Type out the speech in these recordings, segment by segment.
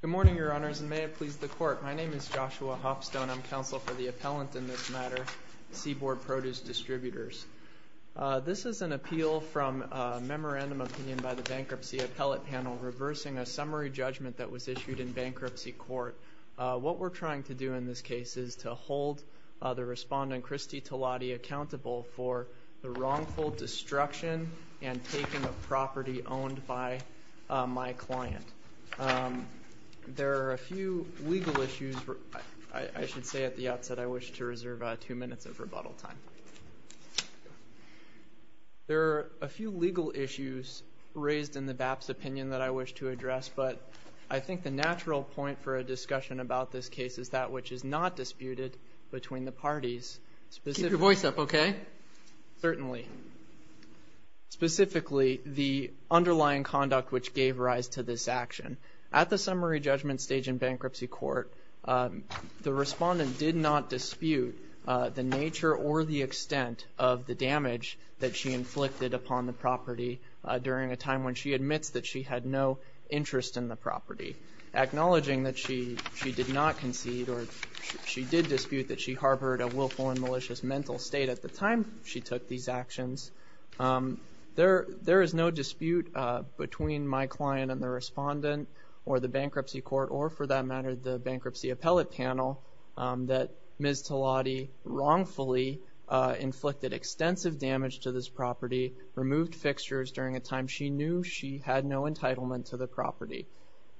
Good morning, your honors, and may it please the court. My name is Joshua Hopstone. I'm counsel for the appellant in this matter, Seaboard Produce Distributors. This is an appeal from a memorandum of opinion by the bankruptcy appellate panel reversing a summary judgment that was issued in bankruptcy court. What we're trying to do in this case is to hold the respondent, Cristie Tolotti, accountable for the wrongful destruction and taking of property owned by my client. There are a few legal issues I should say at the outset. I wish to reserve two minutes of rebuttal time. There are a few legal issues raised in the BAP's opinion that I wish to address, but I think the natural point for a discussion about this case is that which is not disputed between the parties. Keep your voice up, OK? Certainly. Specifically, the underlying conduct which gave rise to this action. At the summary judgment stage in bankruptcy court, the respondent did not dispute the nature or the extent of the damage that she inflicted upon the property during a time when she admits that she had no interest in the property. Acknowledging that she did not concede or she did dispute that she harbored a willful and malicious mental state at the time she took these actions. There is no dispute between my client and the respondent or the bankruptcy court or for that matter the bankruptcy appellate panel that Ms. Tolotti wrongfully inflicted extensive damage to this property, removed fixtures during a time she knew she had no entitlement to the property.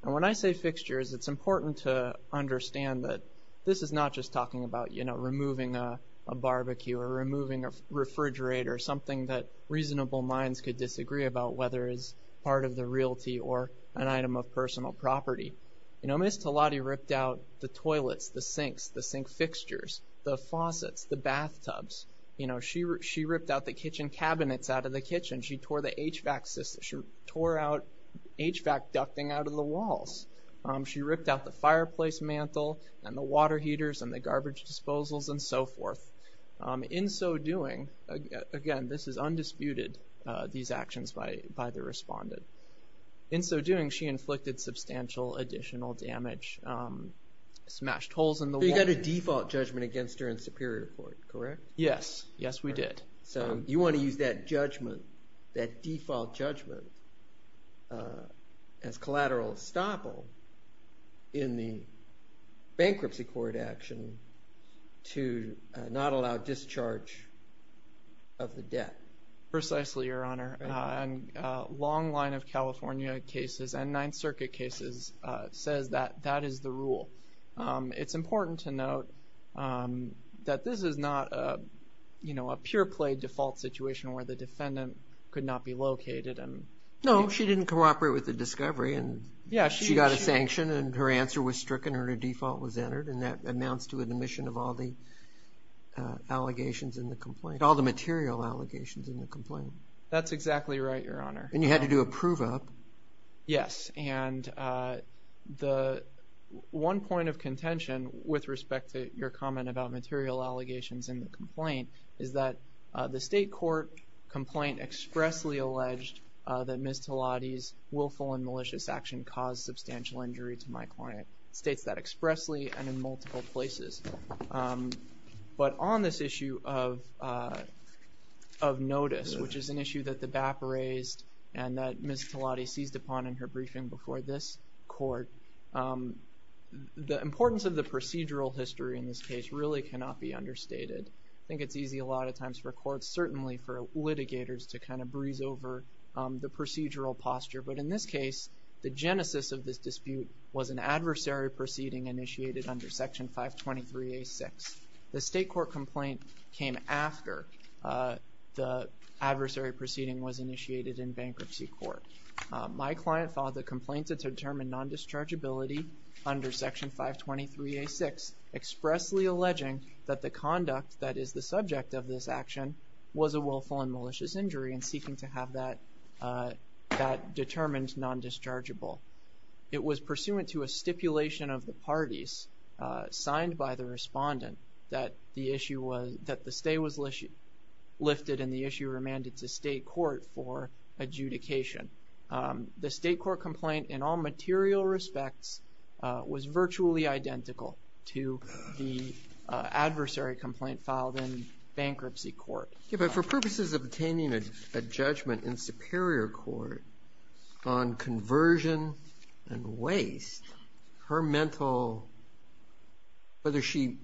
And when I say fixtures, it's important to understand that this is not just talking about, you know, removing a barbecue or removing a refrigerator or something that reasonable minds could disagree about whether it's part of the realty or an item of personal property. You know, Ms. Tolotti ripped out the toilets, the sinks, the sink fixtures, the faucets, the bathtubs. You know, she ripped out the kitchen cabinets out of the kitchen. She tore the HVAC system. She tore out HVAC ducting out of the walls. She ripped out the fireplace mantle and the water heaters and the garbage disposals and so forth. In so doing, again, this is undisputed, these actions by the respondent. In so doing, she inflicted substantial additional damage, smashed holes in the wall. You got a default judgment against her in superior court, correct? Yes. Yes, we did. So you want to use that judgment, that default judgment as collateral estoppel in the bankruptcy court action to not allow discharge of the debt. Precisely, Your Honor. A long line of California cases and Ninth Circuit cases says that that is the rule. It's important to note that this is not, you know, a pure play default situation where the defendant could not be located. No, she didn't cooperate with the discovery. She got a sanction and her answer was stricken or her default was entered. And that amounts to an admission of all the allegations in the complaint, all the material allegations in the complaint. That's exactly right, Your Honor. And you had to do a prove up. Yes. And the one point of contention with respect to your comment about material allegations in the complaint is that the state court complaint expressly alleged that Ms. Talati's willful and malicious action caused substantial injury to my client. It states that expressly and in multiple places. But on this issue of notice, which is an issue that the BAP raised and that Ms. Talati seized upon in her briefing before this court, the importance of the procedural history in this case really cannot be understated. I think it's easy a lot of times for courts, certainly for litigators to kind of breeze over the procedural posture. But in this case, the genesis of this dispute was an adversary proceeding initiated under Section 523-A-6. The state court complaint came after the adversary proceeding was initiated in bankruptcy court. My client filed the complaint to determine non-dischargeability under Section 523-A-6, expressly alleging that the conduct that is the subject of this case, seeking to have that determined non-dischargeable. It was pursuant to a stipulation of the parties signed by the respondent that the issue was that the stay was lifted and the issue remanded to state court for adjudication. The state court complaint, in all material respects, was virtually identical to the adversary complaint filed in bankruptcy court. Yeah, but for purposes of obtaining a judgment in superior court on conversion and waste, her mental, whether she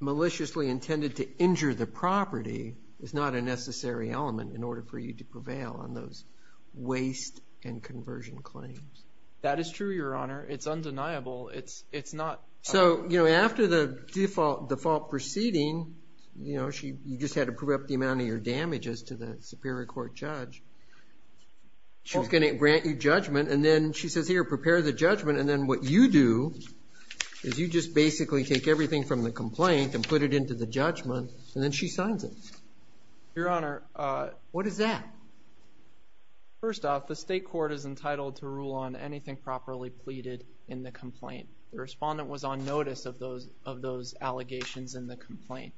maliciously intended to injure the property is not a necessary element in order for you to prevail on those waste and conversion claims. That is true, Your Honor. It's undeniable. It's not. So, you know, after the default proceeding, you know, you just had to prove up the amount of your damages to the superior court judge. She was going to grant you judgment. And then she says, here, prepare the judgment. And then what you do is you just basically take everything from the complaint and put it into the judgment and then she signs it. Your Honor, what is that? First off, the state court is entitled to rule on anything properly pleaded in the complaint. The respondent was on notice of those, of those allegations in the complaint.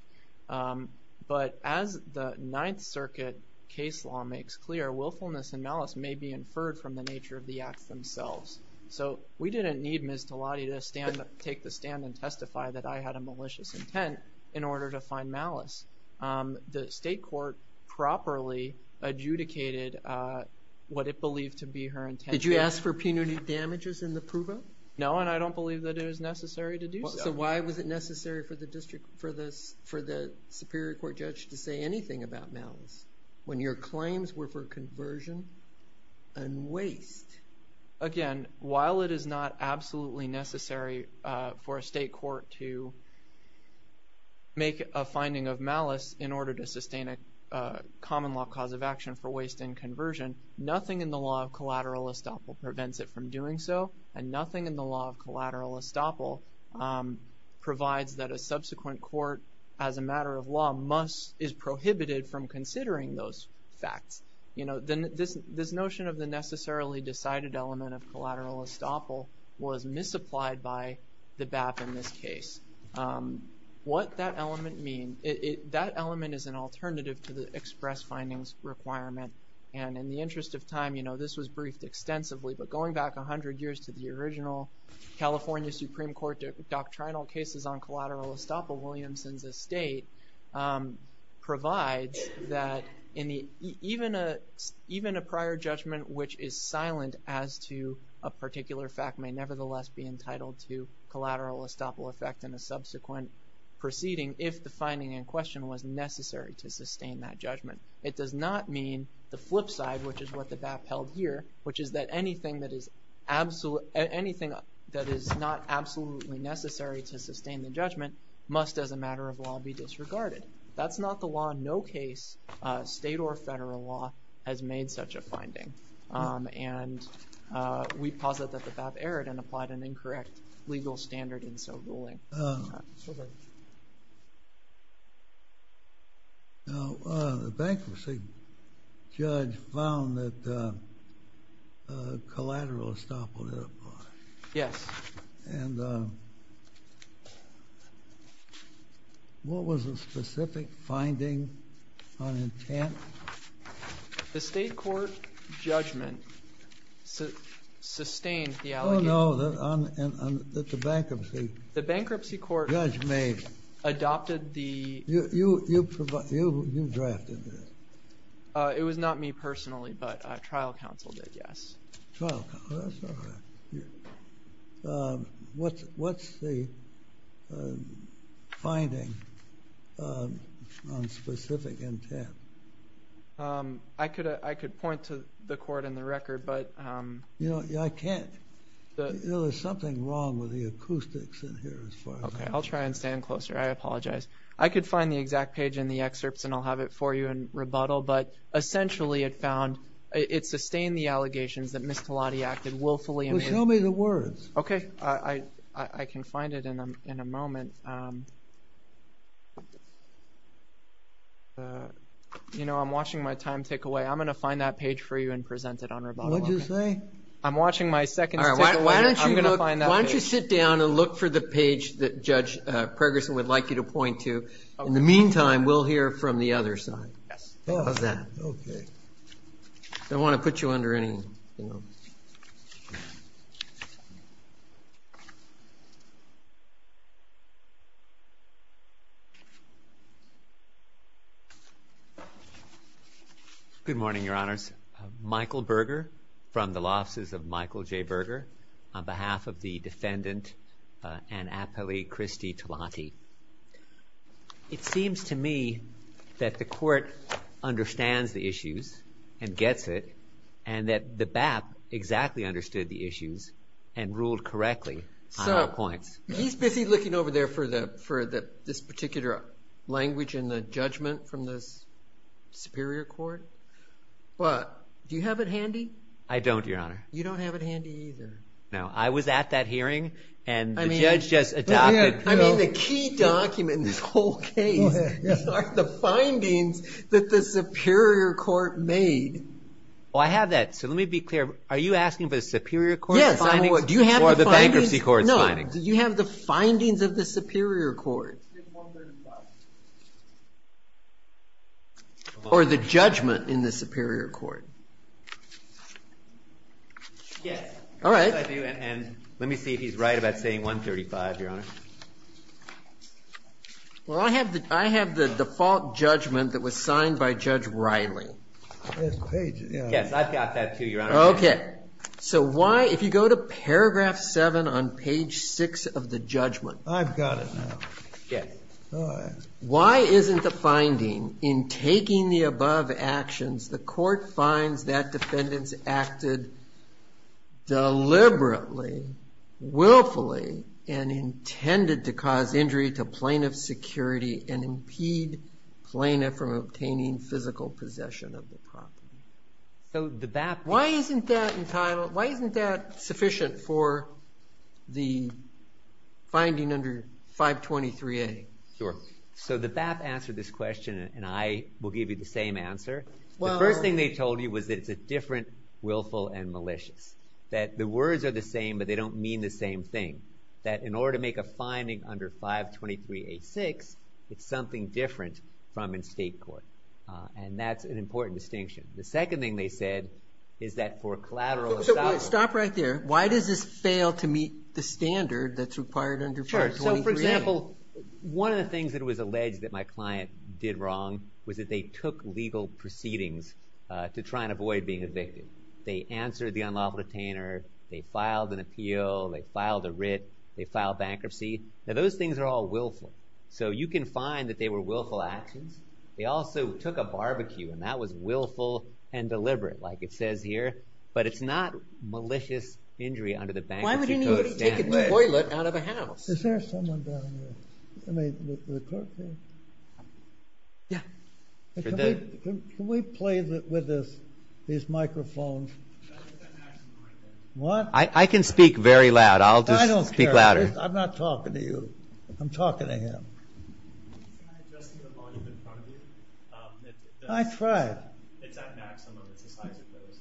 But as the Ninth Circuit case law makes clear, willfulness and malice may be inferred from the nature of the acts themselves. So we didn't need Ms. Talati to stand up, take the stand and testify that I had a malicious intent in order to find malice. The state court properly adjudicated what it believed to be her intent. Did you ask for punitive damages in the provo? No, and I don't believe that it is necessary to do so. So why was it necessary for the district, for this, for the superior court judge to say anything about malice when your claims were for conversion and waste? Again, while it is not absolutely necessary for a state court to make a finding of malice in order to sustain a common law cause of action for waste and conversion, nothing in the law of collateral estoppel prevents it from doing so. And nothing in the law of collateral estoppel provides that a subsequent court as a matter of law must, is prohibited from considering those facts. You know, then this, this notion of the necessarily decided element of collateral estoppel was misapplied by the BAP in this case. What that element mean, it, that element is an alternative to the express findings requirement. And in the interest of time, you know, this was briefed extensively, but going back a hundred years to the original California Supreme Court doctrinal cases on collateral estoppel, Williamson's estate provides that in the, even a, even a prior judgment, which is silent as to a particular fact may nevertheless be entitled to collateral estoppel effect in a subsequent proceeding, if the finding in question was necessary to sustain that judgment. It does not mean the flip side, which is what the BAP held here, which is that anything that is absolute, anything that is not absolutely necessary to sustain the judgment must as a matter of law be disregarded. That's not the law. No case, state or federal law has made such a finding. And we posit that the BAP erred and applied an incorrect legal standard in so ruling. Now, the bankruptcy judge found that collateral estoppel did apply. Yes. And what was the specific finding on intent? The state court judgment sustained the allegation. Oh no, that the bankruptcy. The bankruptcy court. Judge May. Adopted the. You, you, you, you, you, you drafted it. Uh, it was not me personally, but a trial counsel did. Yes. Well, that's all right. Um, what's, what's the, uh, finding, um, on specific intent? Um, I could, uh, I could point to the court and the record, but, um. You know, I can't. You know, there's something wrong with the acoustics in here as far as. Okay. I'll try and stand closer. I apologize. I could find the exact page in the excerpts and I'll have it for you in rebuttal, but essentially it found, it sustained the allegations that Ms. Talati acted willfully and. Well, show me the words. Okay. I, I, I can find it in a, in a moment. Um, uh, you know, I'm watching my time tick away. I'm going to find that page for you and present it on rebuttal. I'm watching my second. Why don't you look, why don't you sit down and look for the page that judge, uh, Pregerson would like you to point to in the meantime, we'll hear from the other side. Yes. How's that? Okay. I don't want to put you under any, you know. Good morning, your honors. Michael Berger from the Law Offices of Michael J. Berger on behalf of the defendant, uh, Ann Apley, Kristi Talati. It seems to me that the court understands the issues and gets it. And that the BAP exactly understood the issues and ruled correctly on our points. He's busy looking over there for the, for the, this particular language and the judgment from this superior court. But do you have it handy? I don't, your honor. You don't have it handy either. No, I was at that hearing and the judge just adopted. I mean, the key document in this whole case are the findings that the superior court made. Well, I have that. So let me be clear. Are you asking for the superior court's findings or the bankruptcy court's findings? Do you have the findings of the superior court? Or the judgment in the superior court? Yes. All right. I do. And let me see if he's right about saying 135, your honor. Well, I have the, I have the default judgment that was signed by Judge Riley. Yes, I've got that too, your honor. Okay. So why, if you go to paragraph seven on page six of the judgment. I've got it now. Yes. Why isn't the finding in taking the above actions, the court finds that defendants acted deliberately, willfully, and intended to cause injury to plaintiff's security and impede plaintiff from obtaining physical possession of the property. So the, that. Why isn't that entitled? Why isn't that sufficient for the finding under 523A? Sure. So the BAP answered this question and I will give you the same answer. The first thing they told you was that it's a different willful and malicious. That the words are the same, but they don't mean the same thing. That in order to make a finding under 523A6, it's something different from in state court. And that's an important distinction. The second thing they said is that for collateral assault. So wait, stop right there. Why does this fail to meet the standard that's required under 523A? Sure. So for example, one of the things that was alleged that my client did wrong was that they took legal proceedings to try and avoid being evicted. They answered the unlawful detainer. They filed an appeal. They filed a writ. They filed bankruptcy. Now those things are all willful. So you can find that they were willful actions. They also took a barbecue and that was willful and deliberate, like it says here. But it's not malicious injury under the bankruptcy code standard. Why would anybody take a new toilet out of a house? Is there someone down there? I mean, the clerk there? Yeah. Can we play with this, these microphones? What? I can speak very loud. I'll just speak louder. I'm not talking to you. I'm talking to him. Can you try adjusting the volume in front of you? I tried. It's at maximum. It's the size of those.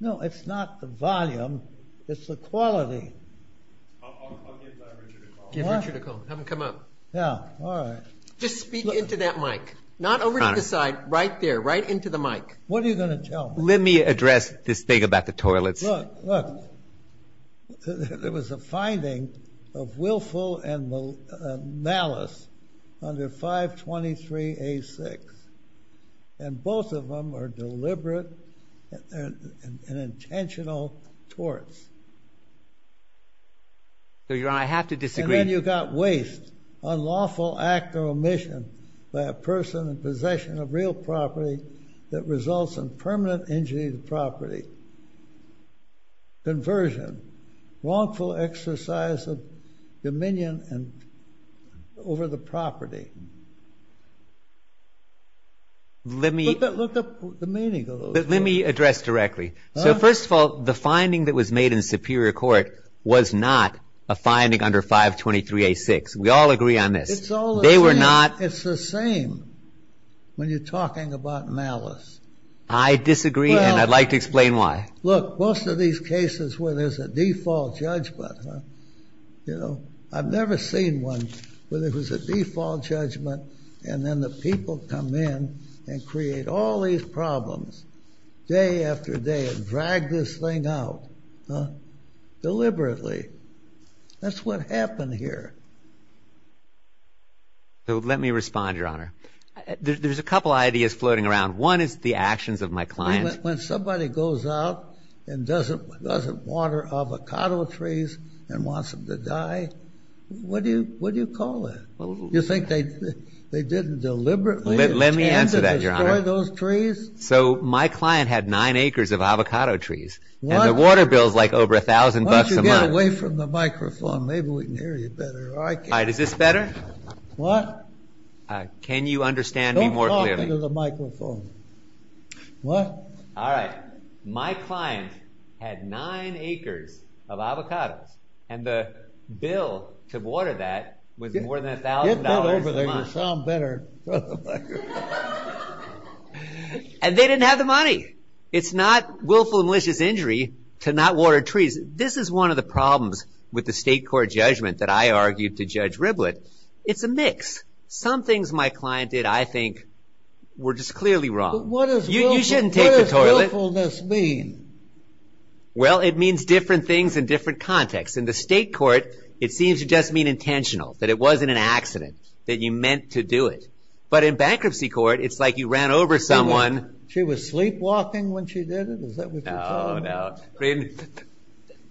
No, it's not the volume. It's the quality. I'll give Richard a call. Give Richard a call. Have him come up. Yeah. All right. Just speak into that mic. Not over to the side, right there, right into the mic. What are you going to tell me? Let me address this thing about the toilets. Look, look. There was a finding of willful and malice under 523A6, and both of them are deliberate and intentional torts. So, Your Honor, I have to disagree. And then you got waste, unlawful act or omission by a person in possession of real property that results in permanent injury to property. Conversion, wrongful exercise of dominion over the property. Look at the meaning of those words. Let me address directly. So, first of all, the finding that was made in Superior Court was not a finding under 523A6. We all agree on this. It's all the same. It's the same when you're talking about malice. I disagree, and I'd like to explain why. Look, most of these cases where there's a default judgment, you know, I've never seen one where there was a default judgment, and then the people come in and create all these problems day after day and drag this thing out, deliberately. That's what happened here. So, let me respond, Your Honor. There's a couple of ideas floating around. One is the actions of my client. When somebody goes out and doesn't water avocado trees and wants them to die, what do you call that? You think they didn't deliberately intend to destroy those trees? So, my client had nine acres of avocado trees, and the water bill's like over a thousand bucks a month. Once you get away from the microphone, maybe we can hear you better. All right, is this better? What? Can you understand me more clearly? Get over to the microphone. What? All right. My client had nine acres of avocados, and the bill to water that was more than a thousand dollars a month. Get that over there, you'll sound better in front of the microphone. And they didn't have the money. It's not willful and malicious injury to not water trees. This is one of the problems with the state court judgment that I argued to Judge Riblett. It's a mix. Some things my client did, I think, were just clearly wrong. What does willfulness mean? Well, it means different things in different contexts. In the state court, it seems to just mean intentional, that it wasn't an accident, that you meant to do it. But in bankruptcy court, it's like you ran over someone. She was sleepwalking when she did it? Is that what you're telling me? Oh, no.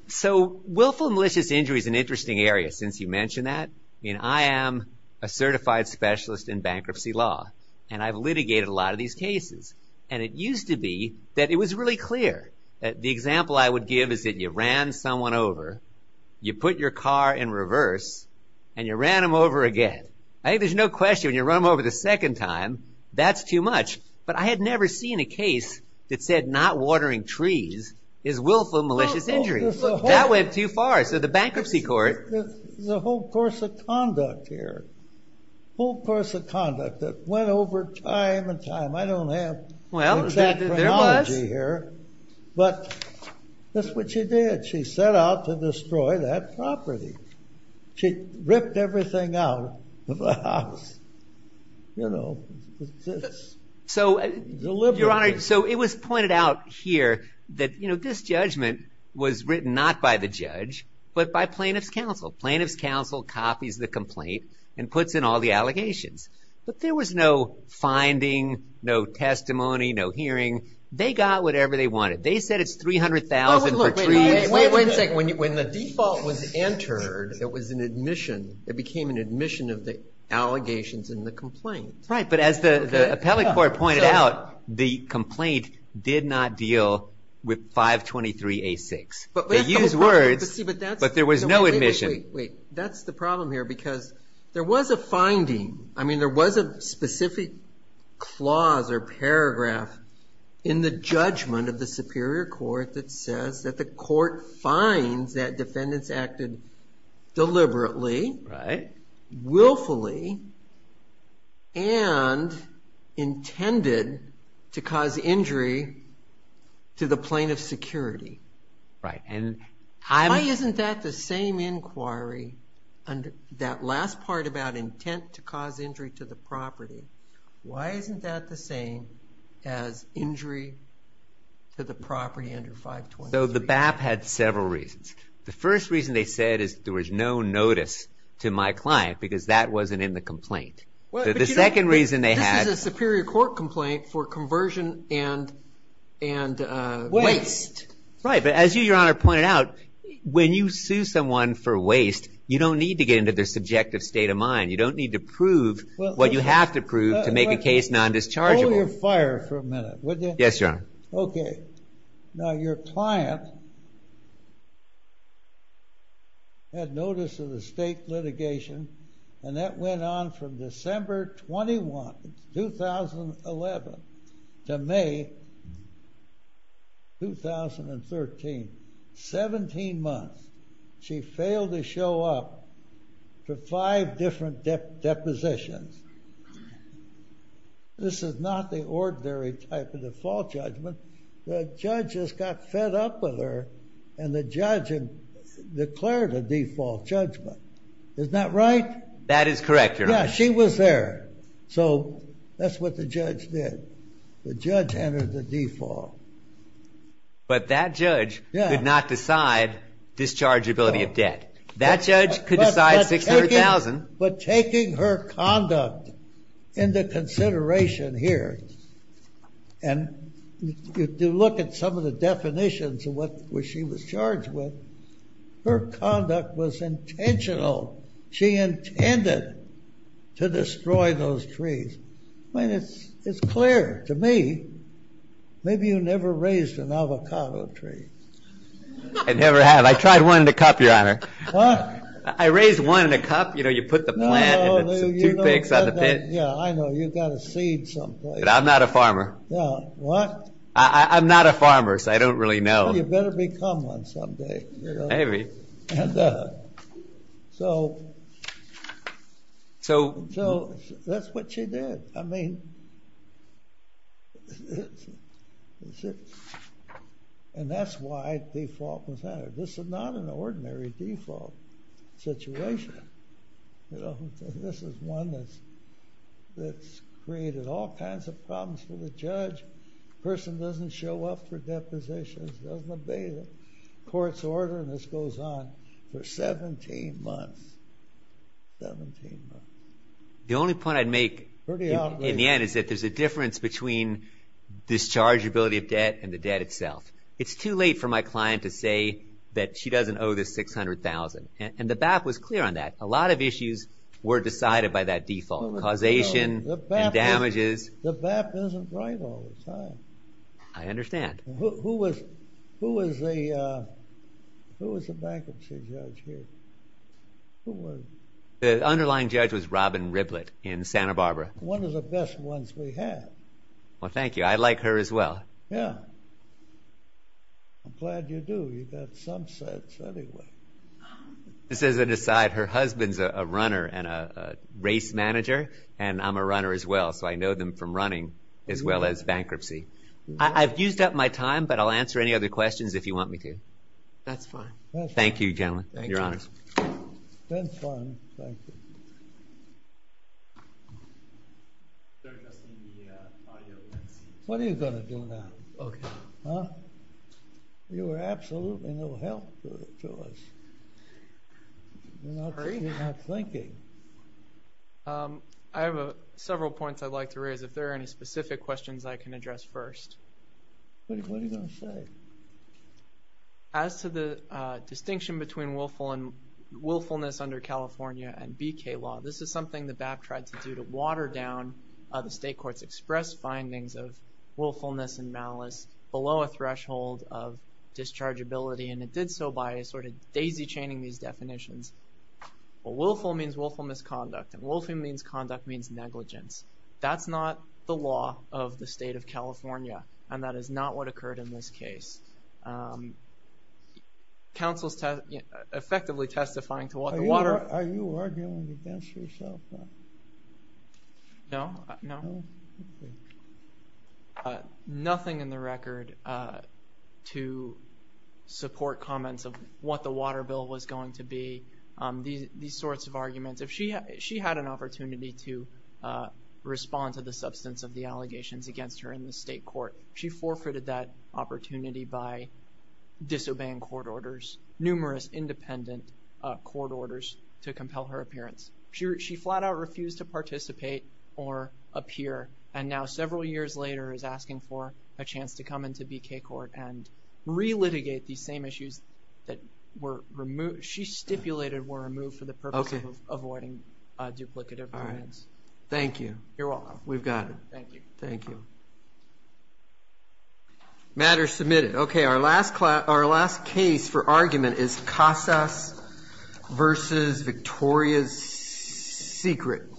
So, willful and malicious injury is an interesting area, since you mentioned that. I am a certified specialist in bankruptcy law, and I've litigated a lot of these cases. And it used to be that it was really clear. The example I would give is that you ran someone over, you put your car in reverse, and you ran them over again. I think there's no question, when you run them over the second time, that's too much. But I had never seen a case that said not watering trees is willful and malicious injury. That went too far. So the bankruptcy court... There's a whole course of conduct here, a whole course of conduct that went over time and time. I don't have the exact chronology here, but that's what she did. She set out to destroy that property. She ripped everything out of the house, you know, just deliberately. So it was pointed out here that, you know, this judgment was written not by the judge, but by plaintiff's counsel. Plaintiff's counsel copies the complaint and puts in all the allegations. But there was no finding, no testimony, no hearing. They got whatever they wanted. They said it's $300,000 for trees. Wait a second. When the default was entered, it was an admission. It became an admission of the allegations in the complaint. Right. But as the appellate court pointed out, the complaint did not deal with 523A6. They used words, but there was no admission. Wait, that's the problem here, because there was a finding. I mean, there was a specific clause or paragraph in the judgment of the Superior Court that says that the court finds that defendants acted deliberately, willfully, and intended to cause injury to the plaintiff's security. Right. And I'm. Why isn't that the same inquiry under that last part about intent to cause injury to the property? Why isn't that the same as injury to the property under 523? So the BAP had several reasons. The first reason they said is there was no notice to my client because that wasn't in the complaint. The second reason they had. This is a Superior Court complaint for conversion and waste. Right. But as you, Your Honor, pointed out, when you sue someone for waste, you don't need to get into their subjective state of mind. You don't need to prove what you have to prove to make a case non-dischargeable. Hold your fire for a minute, would you? Yes, Your Honor. OK. Now, your client had notice of the state litigation, and that went on from December 21, 2011 to May 2013, 17 months. She failed to show up for five different depositions. This is not the ordinary type of default judgment. The judges got fed up with her and the judge declared a default judgment. Is that right? That is correct, Your Honor. She was there. So that's what the judge did. The judge entered the default. But that judge did not decide dischargeability of debt. That judge could decide $600,000. But taking her conduct into consideration here, and you look at some of the definitions of what she was charged with, her conduct was intentional. She intended to destroy those trees. I mean, it's clear to me. Maybe you never raised an avocado tree. I never have. I tried one in a cup, Your Honor. I raised one in a cup. You know, you put the plant and the toothpicks on the pit. Yeah, I know. You've got a seed someplace. But I'm not a farmer. What? I'm not a farmer, so I don't really know. Well, you better become one someday. Maybe. So that's what she did. And that's why default was entered. This is not an ordinary default situation. This is one that's created all kinds of problems for the judge. The person doesn't show up for depositions, doesn't obey the court's order, and this goes on for 17 months. 17 months. The only point I'd make in the end is that there's a difference between dischargeability of debt and the debt itself. It's too late for my client to say that she doesn't owe the $600,000. And the BAP was clear on that. A lot of issues were decided by that default. Causation and damages. The BAP isn't right all the time. I understand. Who was the bankruptcy judge here? The underlying judge was Robin Riblett in Santa Barbara. One of the best ones we had. Well, thank you. I like her as well. Yeah. I'm glad you do. You've got some sense anyway. This is an aside. Her husband's a runner and a race manager, and I'm a runner as well, so I know them from running as well as bankruptcy. I've used up my time, but I'll answer any other questions if you want me to. That's fine. Thank you, gentlemen. Your Honor. That's fine. Thank you. What are you going to do now? Okay. Huh? You were absolutely no help to us. You're not thinking. I have several points I'd like to raise. If there are any specific questions I can address first. What are you going to say? As to the distinction between willfulness under California and BK law, this is something the BAP tried to do to water down the state court's expressed findings of willfulness and malice below a threshold of dischargeability, and it did so by sort of daisy-chaining these definitions. Willful means willful misconduct, and willful means conduct means negligence. That's not the law of the state of California, and that is not what occurred in this case. Counsel's effectively testifying to what the water... Are you arguing against yourself now? No. No? Nothing in the record to support comments of what the water bill was going to be. These sorts of arguments. If she had an opportunity to respond to the substance of the allegations against her in the state court, she forfeited that opportunity by disobeying court orders, numerous independent court orders to compel her appearance. She flat-out refused to participate or appear, and now several years later is asking for a chance to come into BK court and re-litigate these same issues that were removed. She stipulated were removed for the purpose of avoiding duplicative agreements. Thank you. You're welcome. We've got it. Thank you. Thank you. Matter submitted. Okay, our last case for argument is Casas v. Victoria's Secret.